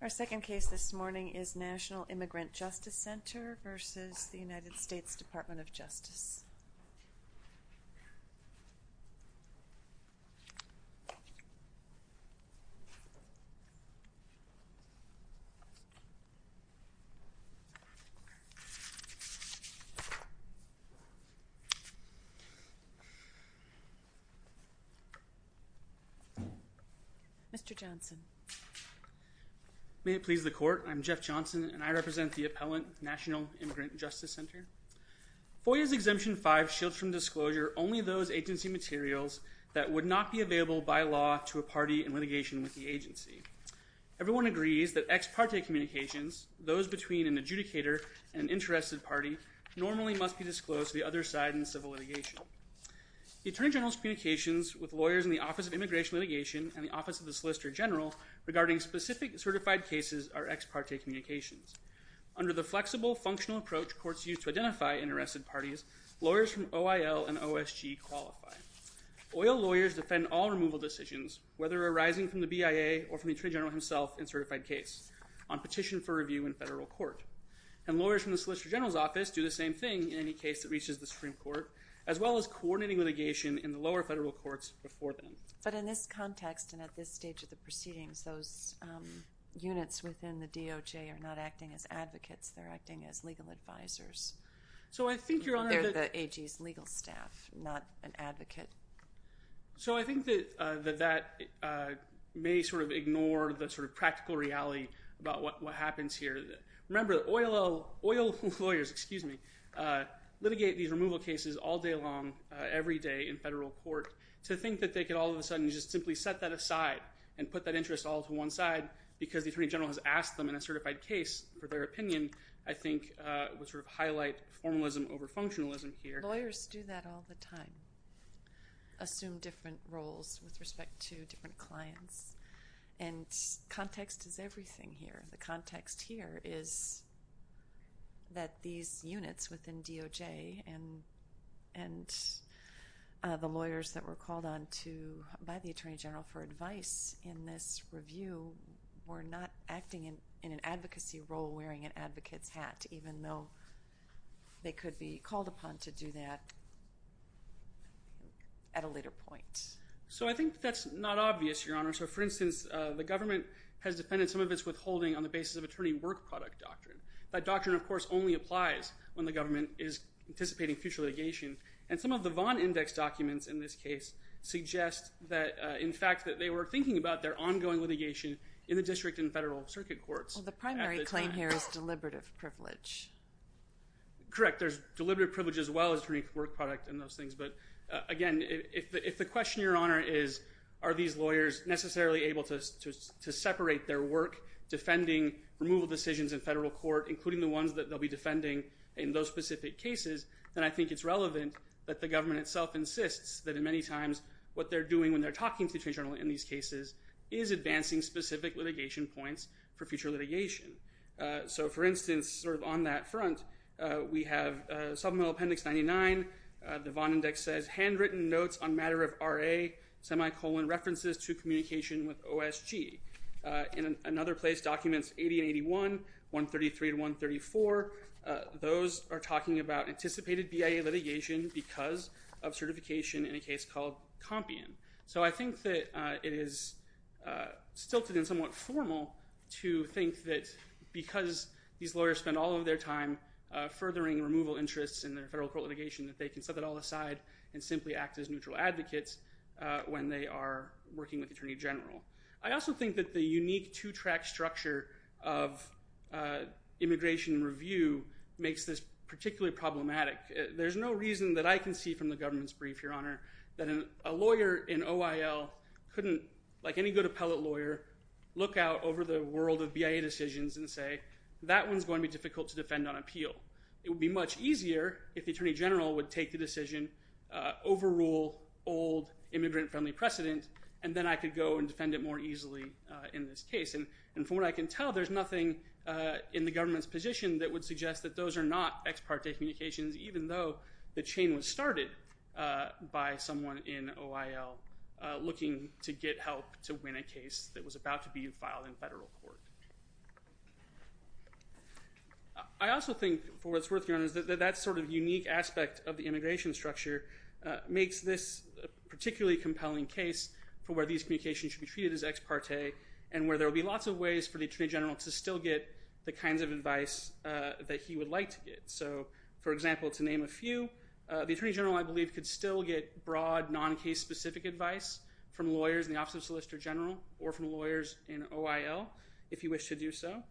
Our second case this morning is National Immigrant Justice Center v. United States Department of Justice Mr. Johnson. May it please the court I'm Jeff Johnson and I am the attorney general of the United States Department of Justice. I'm here to discuss the case of Foyer v. Exemption 5. Foyer v. Exemption 5 shields from disclosure only those agency materials that would not be available by law to a party in litigation with the agency. Everyone agrees that ex parte communications, those between an adjudicator and interested party, normally must be disclosed to the other side in civil litigation. The attorney general's communications with lawyers in the Office of Immigration Litigation and the Office of the Solicitor General regarding specific certified cases are ex parte communications. Under the flexible, functional approach courts use to identify interested parties, lawyers from OIL and OSG qualify. Oil lawyers defend all removal decisions, whether arising from the BIA or from the attorney general himself in a certified case, on petition for review in federal court. And lawyers from the Solicitor General's office do the same thing in any case that reaches the Supreme Court, as well as coordinating litigation in the lower federal courts before then. But in this context and at this stage of the proceedings, those units within the DOJ are not acting as advocates. They're acting as legal advisors. They're the AG's legal staff, not an advocate. So I think that that may sort of ignore the sort of practical reality about what happens here. Remember, oil lawyers litigate these removal cases all day long, every day in federal court. To think that they could all of a sudden just simply set that aside and put that interest all to one side because the attorney general has asked them in a certified case for their opinion, I think would sort of highlight formalism over functionalism here. Lawyers do that all the time, assume different roles with respect to different clients. And context is everything here. The context here is that these units within DOJ and the lawyers that were called on by the attorney general for advice in this review were not acting in an advocacy role wearing an advocate's hat, even though they could be called upon to do that at a later point. So I think that's not obvious, Your Honor. So, for instance, the government has defended some of its withholding on the basis of attorney work product doctrine. That doctrine, of course, only applies when the government is anticipating future litigation. And some of the Vaughn Index documents in this case suggest that, in fact, that they were thinking about their ongoing litigation in the district and federal circuit courts. Well, the primary claim here is deliberative privilege. Correct. There's deliberative privilege as well as attorney work product and those things. But, again, if the question, Your Honor, is are these lawyers necessarily able to separate their work defending removal decisions in federal court, including the ones that they'll be defending in those specific cases, then I think it's relevant that the government itself insists that, in many times, what they're doing when they're talking to the attorney general in these cases is advancing specific litigation points for future litigation. So, for instance, sort of on that front, we have Supplemental Appendix 99. The Vaughn Index says, handwritten notes on matter of RA, semicolon, references to communication with OSG. In another place, Documents 80 and 81, 133 to 134, those are talking about anticipated BIA litigation because of certification in a case called Compion. So I think that it is stilted and somewhat formal to think that because these lawyers spend all of their time furthering removal interests in their federal court litigation that they can set that all aside and simply act as neutral advocates when they are working with the attorney general. I also think that the unique two-track structure of immigration review makes this particularly problematic. There's no reason that I can see from the government's brief, Your Honor, that a lawyer in OIL couldn't, like any good appellate lawyer, look out over the world of BIA decisions and say, that one's going to be difficult to defend on appeal. It would be much easier if the attorney general would take the decision, overrule old immigrant-friendly precedent, and then I could go and defend it more easily in this case. And from what I can tell, there's nothing in the government's position that would suggest that those are not ex parte communications, even though the chain was started by someone in OIL looking to get help to win a case that was about to be filed in federal court. I also think, for what's worth, Your Honor, that that sort of unique aspect of the immigration structure makes this a particularly compelling case for where these communications should be treated as ex parte and where there will be lots of ways for the attorney general to still get the kinds of advice that he would like to get. So, for example, to name a few, the attorney general, I believe, could still get broad, non-case-specific advice from lawyers in the Office of Solicitor General or from lawyers in OIL if he wished to do so.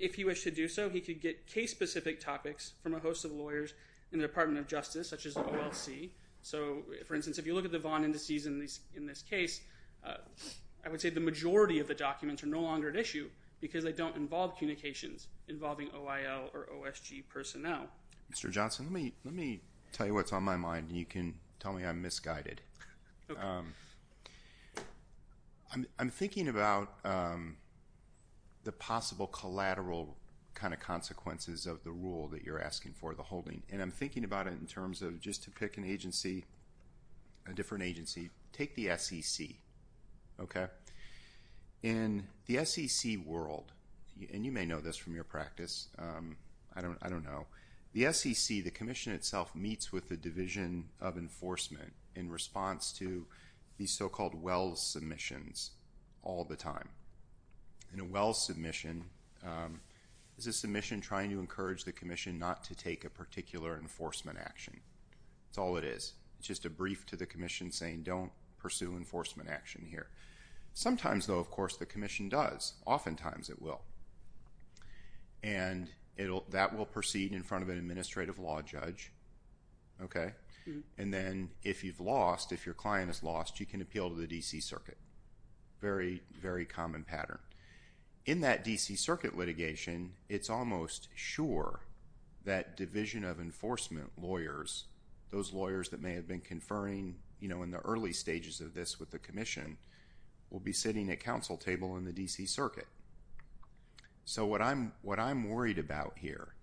If he wished to do so, he could get case-specific topics from a host of lawyers in the Department of Justice, such as the OLC. So, for instance, if you look at the Vaughn Indices in this case, I would say the majority of the documents are no longer at issue because they don't involve communications involving OIL or OSG personnel. Mr. Johnson, let me tell you what's on my mind. You can tell me I'm misguided. I'm thinking about the possible collateral kind of consequences of the rule that you're asking for, the holding. And I'm thinking about it in terms of just to pick an agency, a different agency. Take the SEC, okay? In the SEC world, and you may know this from your practice, I don't know, the SEC, the commission itself, meets with the Division of Enforcement in response to these so-called Wells submissions all the time. And a Wells submission is a submission trying to encourage the commission not to take a particular enforcement action. That's all it is. It's just a brief to the commission saying, don't pursue enforcement action here. Sometimes, though, of course, the commission does. Oftentimes, it will. And that will proceed in front of an administrative law judge, okay? And then if you've lost, if your client is lost, you can appeal to the D.C. Circuit. Very, very common pattern. In that D.C. Circuit litigation, it's almost sure that Division of Enforcement lawyers, those lawyers that may have been conferring, you know, in the early stages of this with the commission, will be sitting at council table in the D.C. Circuit. So what I'm worried about here,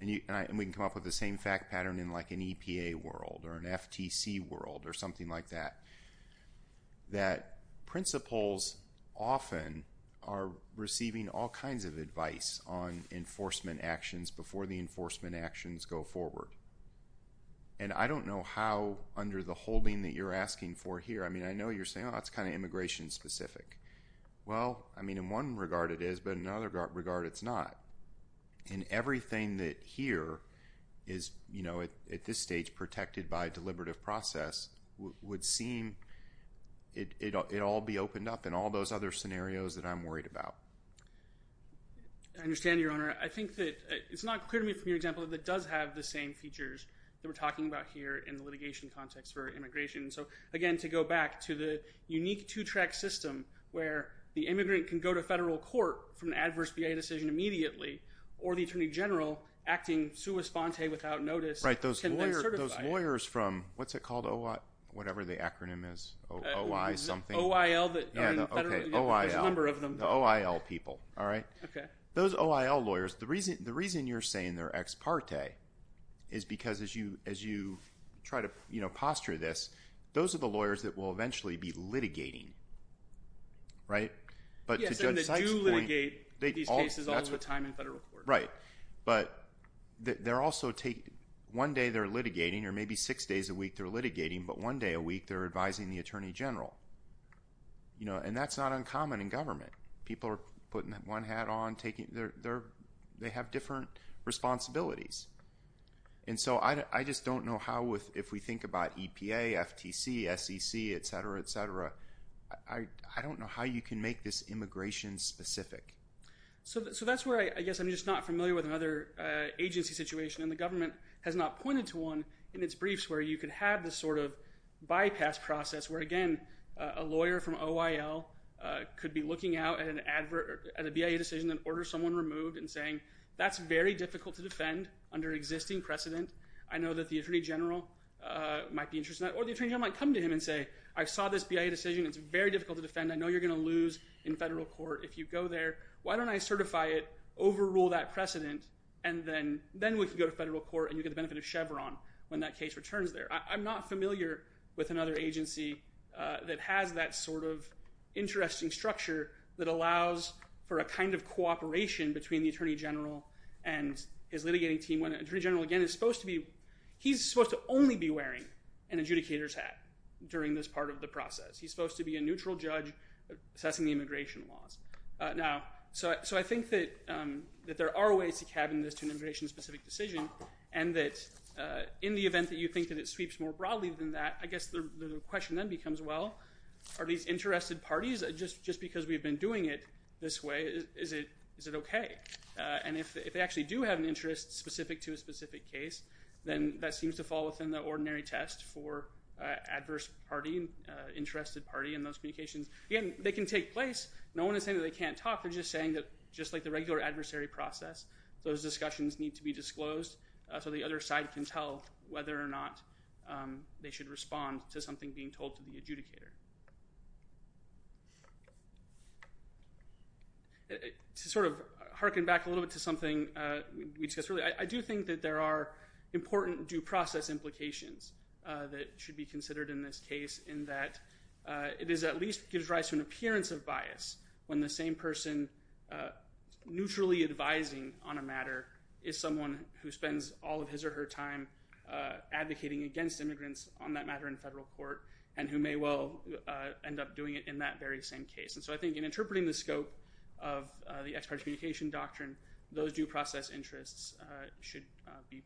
and we can come up with the same fact pattern in like an EPA world or an FTC world or something like that, that principals often are receiving all kinds of advice on enforcement actions before the enforcement actions go forward. And I don't know how under the holding that you're asking for here. I mean, I know you're saying, oh, that's kind of immigration specific. Well, I mean, in one regard, it is, but in another regard, it's not. And everything that here is, you know, at this stage protected by a deliberative process would seem it all be opened up in all those other scenarios that I'm worried about. I understand, Your Honor. I think that it's not clear to me from your example that it does have the same features that we're talking about here in the litigation context for immigration. So, again, to go back to the unique two-track system where the immigrant can go to federal court for an adverse VA decision immediately or the attorney general acting sua sponte without notice can then certify. Right. Those lawyers from – what's it called? Whatever the acronym is. OI something. OIL. Yeah. Okay. OIL. There's a number of them. The OIL people. All right? Okay. Those OIL lawyers, the reason you're saying they're ex parte is because as you try to, you know, posture this, those are the lawyers that will eventually be litigating. Right? Yes, and they do litigate these cases all the time in federal court. Right. But they're also taking – one day they're litigating or maybe six days a week they're litigating, but one day a week they're advising the attorney general. You know, and that's not uncommon in government. People are putting one hat on, taking – they have different responsibilities. And so I just don't know how with – if we think about EPA, FTC, SEC, et cetera, et cetera, I don't know how you can make this immigration specific. So that's where I guess I'm just not familiar with another agency situation, and the government has not pointed to one in its briefs where you can have this sort of bypass process where, again, a lawyer from OIL could be looking out at a BIA decision that orders someone removed and saying, that's very difficult to defend under existing precedent. I know that the attorney general might be interested in that. Or the attorney general might come to him and say, I saw this BIA decision. It's very difficult to defend. I know you're going to lose in federal court if you go there. Why don't I certify it, overrule that precedent, and then we can go to federal court and you get the benefit of Chevron when that case returns there. I'm not familiar with another agency that has that sort of interesting structure that allows for a kind of cooperation between the attorney general and his litigating team. When an attorney general, again, is supposed to be – he's supposed to only be wearing an adjudicator's hat during this part of the process. He's supposed to be a neutral judge assessing the immigration laws. So I think that there are ways to cabin this to an immigration-specific decision and that in the event that you think that it sweeps more broadly than that, I guess the question then becomes, well, are these interested parties, just because we've been doing it this way, is it okay? And if they actually do have an interest specific to a specific case, then that seems to fall within the ordinary test for adverse party, interested party in those communications. Again, they can take place. No one is saying that they can't talk. They're just saying that just like the regular adversary process, those discussions need to be disclosed so the other side can tell whether or not they should respond to something being told to the adjudicator. To sort of harken back a little bit to something we discussed earlier, I do think that there are important due process implications that should be considered in this case in that it at least gives rise to an appearance of bias when the same person neutrally advising on a matter is someone who spends all of his or her time advocating against immigrants on that matter in federal court and who may well end up doing it in that very same case. And so I think in interpreting the scope of the ex-party communication doctrine, those due process interests should be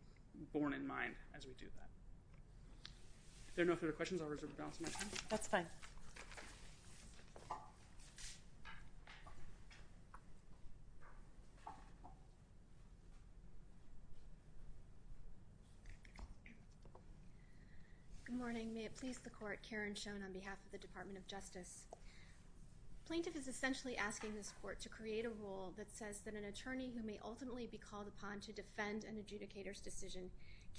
borne in mind as we do that. If there are no further questions, I'll reserve the balance of my time. That's fine. Good morning. May it please the court, Karen Schoen on behalf of the Department of Justice. Plaintiff is essentially asking this court to create a rule that says that an attorney who may ultimately be called upon to defend an adjudicator's decision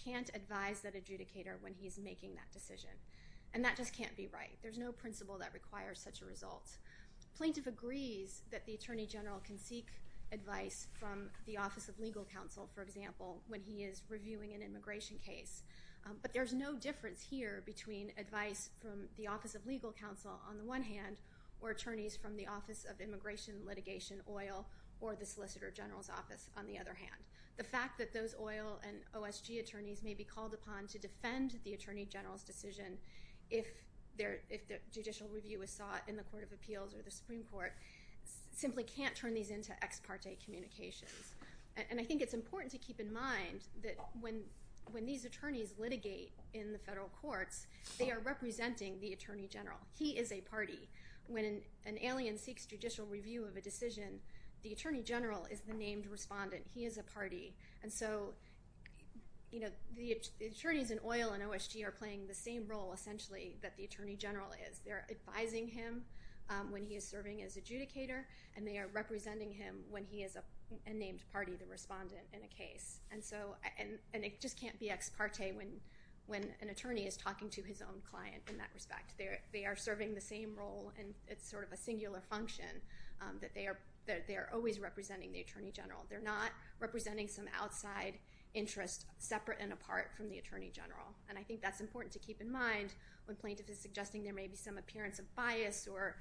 can't advise that adjudicator when he's making that decision. And that just can't be right. There's no principle that requires such a result. Plaintiff agrees that the attorney general can seek advice from the Office of Legal Counsel, for example, when he is reviewing an immigration case. But there's no difference here between advice from the Office of Legal Counsel on the one hand or attorneys from the Office of Immigration Litigation, OIL, or the Solicitor General's Office on the other hand. The fact that those OIL and OSG attorneys may be called upon to defend the attorney general's decision if the judicial review is sought in the Court of Appeals or the Supreme Court simply can't turn these into ex-parte communications. And I think it's important to keep in mind that when these attorneys litigate in the federal courts, they are representing the attorney general. He is a party. When an alien seeks judicial review of a decision, the attorney general is the named respondent. He is a party. And so the attorneys in OIL and OSG are playing the same role, essentially, that the attorney general is. They're advising him when he is serving as adjudicator, and they are representing him when he is a named party, the respondent, in a case. And it just can't be ex-parte when an attorney is talking to his own client in that respect. They are serving the same role, and it's sort of a singular function that they are always representing the attorney general. They're not representing some outside interest separate and apart from the attorney general. And I think that's important to keep in mind when plaintiffs are suggesting there may be some appearance of bias or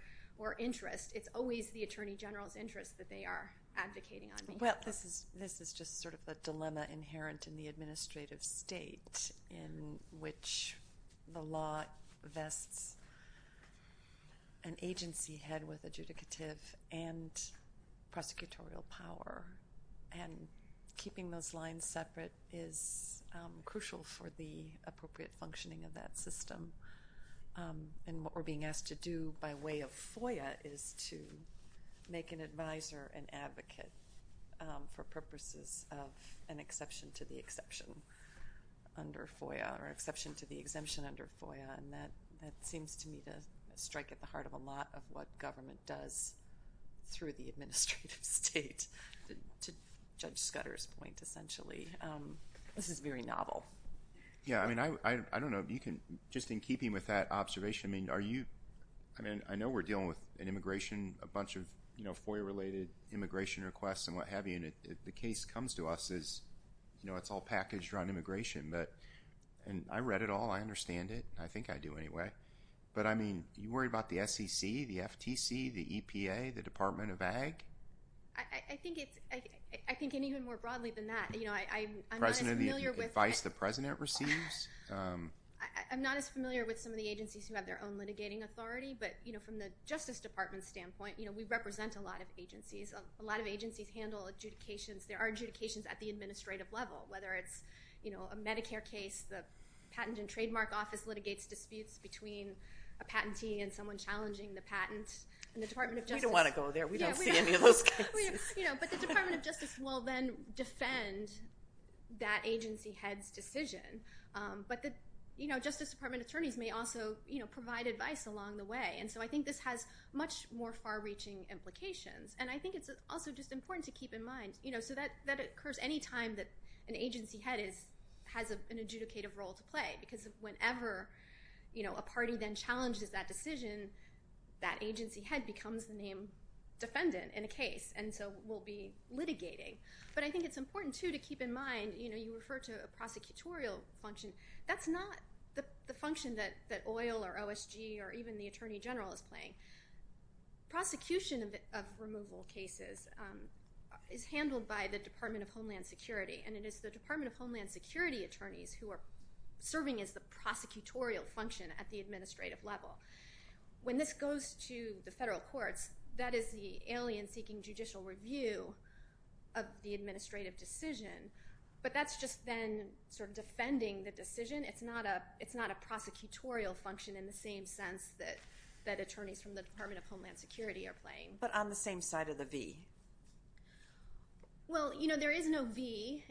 interest. It's always the attorney general's interest that they are advocating on behalf of. Well, this is just sort of a dilemma inherent in the administrative state in which the law vests an agency head with adjudicative and prosecutorial power. And keeping those lines separate is crucial for the appropriate functioning of that system. And what we're being asked to do by way of FOIA is to make an advisor an advocate for purposes of an exception to the exception under FOIA or exception to the exemption under FOIA, and that seems to me to strike at the heart of a lot of what government does through the administrative state. To Judge Scudder's point, essentially, this is very novel. Yeah, I mean, I don't know. Just in keeping with that observation, I mean, I know we're dealing with an immigration, a bunch of FOIA-related immigration requests and what have you, and the case comes to us as it's all packaged around immigration. And I read it all. I understand it. I think I do anyway. But, I mean, are you worried about the SEC, the FTC, the EPA, the Department of Ag? I think even more broadly than that. I'm not as familiar with some of the agencies who have their own litigating authority, but from the Justice Department standpoint, we represent a lot of agencies. A lot of agencies handle adjudications. There are adjudications at the administrative level, whether it's a Medicare case, the Patent and Trademark Office litigates disputes between a patentee and someone challenging the patent. We don't want to go there. We don't see any of those cases. But the Department of Justice will then defend that agency head's decision. But the Justice Department attorneys may also provide advice along the way. And so I think this has much more far-reaching implications. And I think it's also just important to keep in mind, so that occurs any time that an agency head has an adjudicative role to play, because whenever a party then challenges that decision, that agency head becomes the named defendant in a case. And so we'll be litigating. But I think it's important, too, to keep in mind, you know, you refer to a prosecutorial function. That's not the function that OIL or OSG or even the Attorney General is playing. Prosecution of removal cases is handled by the Department of Homeland Security, and it is the Department of Homeland Security attorneys who are serving as the prosecutorial function at the administrative level. When this goes to the federal courts, that is the alien seeking judicial review of the administrative decision. But that's just then sort of defending the decision. It's not a prosecutorial function in the same sense that attorneys from the Department of Homeland Security are playing. But on the same side of the V. Well, you know, there is no V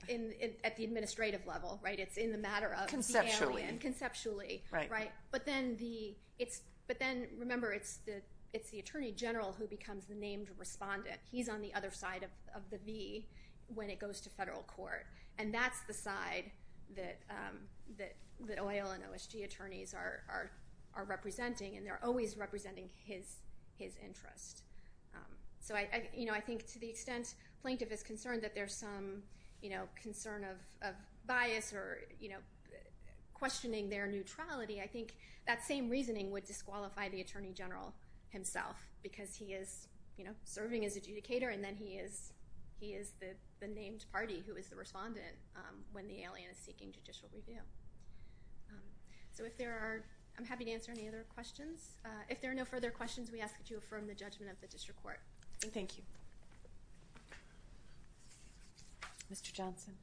at the administrative level, right? It's in the matter of the alien. Conceptually. Conceptually. Right. But then remember, it's the Attorney General who becomes the named respondent. He's on the other side of the V when it goes to federal court. And that's the side that OIL and OSG attorneys are representing, and they're always representing his interest. So, you know, I think to the extent plaintiff is concerned that there's some, you know, concern of bias or, you know, I think that same reasoning would disqualify the Attorney General himself because he is, you know, serving as adjudicator and then he is the named party who is the respondent when the alien is seeking judicial review. So if there are, I'm happy to answer any other questions. If there are no further questions, we ask that you affirm the judgment of the district court. Thank you. Mr. Johnson.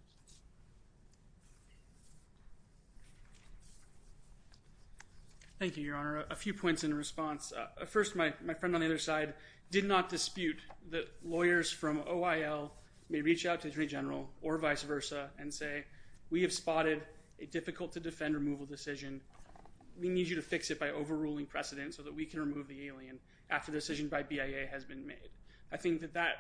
Thank you, Your Honor. A few points in response. First, my friend on the other side did not dispute that lawyers from OIL may reach out to the Attorney General or vice versa and say, we have spotted a difficult to defend removal decision. We need you to fix it by overruling precedent so that we can remove the alien after the decision by BIA has been made. I think that that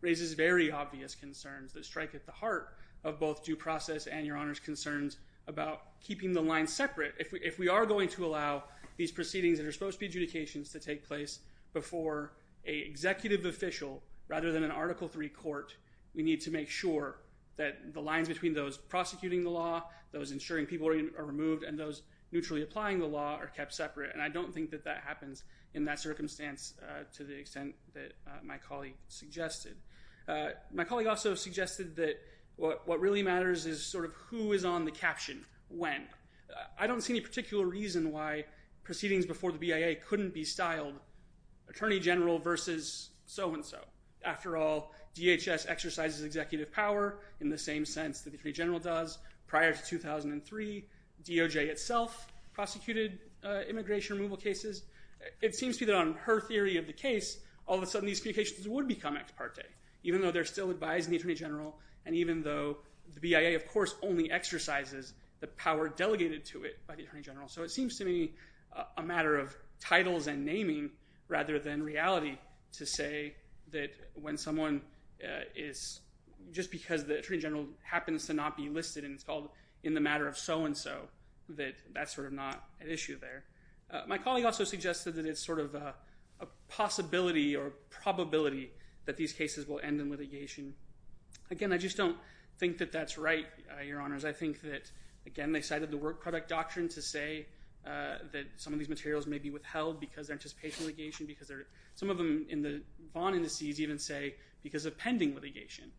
raises very obvious concerns that strike at the heart of both due process and Your Honor's concerns about keeping the line separate. If we are going to allow these proceedings that are supposed to be adjudications to take place before an executive official rather than an Article III court, we need to make sure that the lines between those prosecuting the law, those insuring people are removed, and those neutrally applying the law are kept separate. And I don't think that that happens in that circumstance to the extent that my colleague suggested. My colleague also suggested that what really matters is sort of who is on the caption when. I don't see any particular reason why proceedings before the BIA couldn't be styled Attorney General versus so-and-so. After all, DHS exercises executive power in the same sense that the Attorney General does. Prior to 2003, DOJ itself prosecuted immigration removal cases. It seems to me that on her theory of the case, all of a sudden these communications would become ex parte, even though they're still advised in the Attorney General and even though the BIA, of course, only exercises the power delegated to it by the Attorney General. So it seems to me a matter of titles and naming rather than reality to say that when someone is, just because the Attorney General happens to not be listed and it's called in the matter of so-and-so, that that's sort of not an issue there. My colleague also suggested that it's sort of a possibility or probability that these cases will end in litigation. Again, I just don't think that that's right, Your Honors. I think that, again, they cited the work product doctrine to say that some of these materials may be withheld because they're anticipation litigation, because some of them in the Vaughn indices even say because of pending litigation.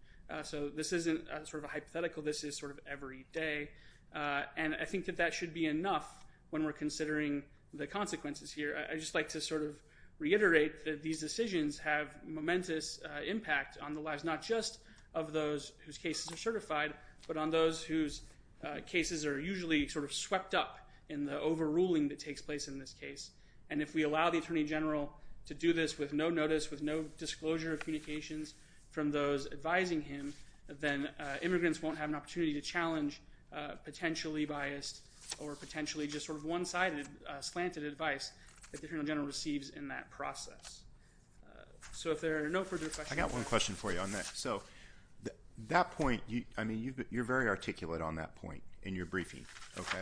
So this isn't sort of a hypothetical. This is sort of every day. And I think that that should be enough when we're considering the consequences here. I'd just like to sort of reiterate that these decisions have momentous impact on the lives not just of those whose cases are certified, but on those whose cases are usually sort of swept up in the overruling that takes place in this case. And if we allow the Attorney General to do this with no notice, with no disclosure of communications from those advising him, then immigrants won't have an opportunity to challenge potentially biased or potentially just sort of one-sided slanted advice that the Attorney General receives in that process. So if there are no further questions. I got one question for you on that. So that point, I mean, you're very articulate on that point in your briefing, okay?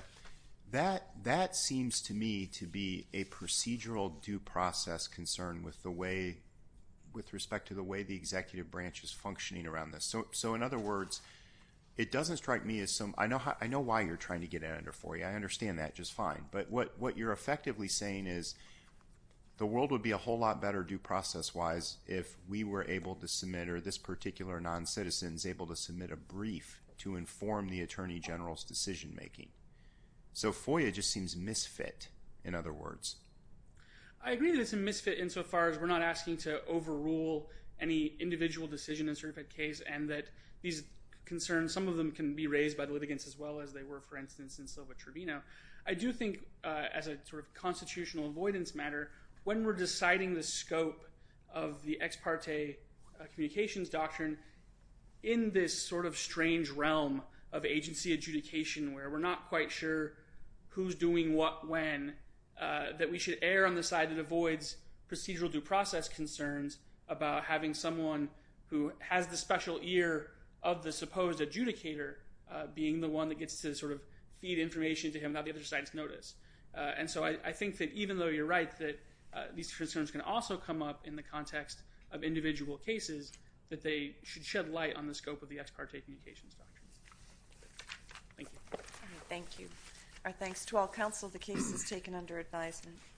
That seems to me to be a procedural due process concern with respect to the way the executive branch is functioning around this. So in other words, it doesn't strike me as some – I know why you're trying to get it under FOIA. I understand that just fine. But what you're effectively saying is the world would be a whole lot better due process-wise if we were able to submit or this particular non-citizen is able to submit a brief to inform the Attorney General's decision-making. So FOIA just seems misfit, in other words. I agree that it's a misfit insofar as we're not asking to overrule any individual decision in a certain case and that these concerns, some of them can be raised by the litigants as well as they were, for instance, in Silva-Trevino. I do think as a sort of constitutional avoidance matter, when we're deciding the scope of the ex parte communications doctrine, in this sort of strange realm of agency adjudication where we're not quite sure who's doing what when, that we should err on the side that avoids procedural due process concerns about having someone who has the special ear of the supposed adjudicator being the one that gets to sort of feed information to him without the other side's notice. And so I think that even though you're right that these concerns can also come up in the context of individual cases, that they should shed light on the scope of the ex parte communications doctrine. Thank you. Thank you. Our thanks to all counsel. The case is taken under advisement.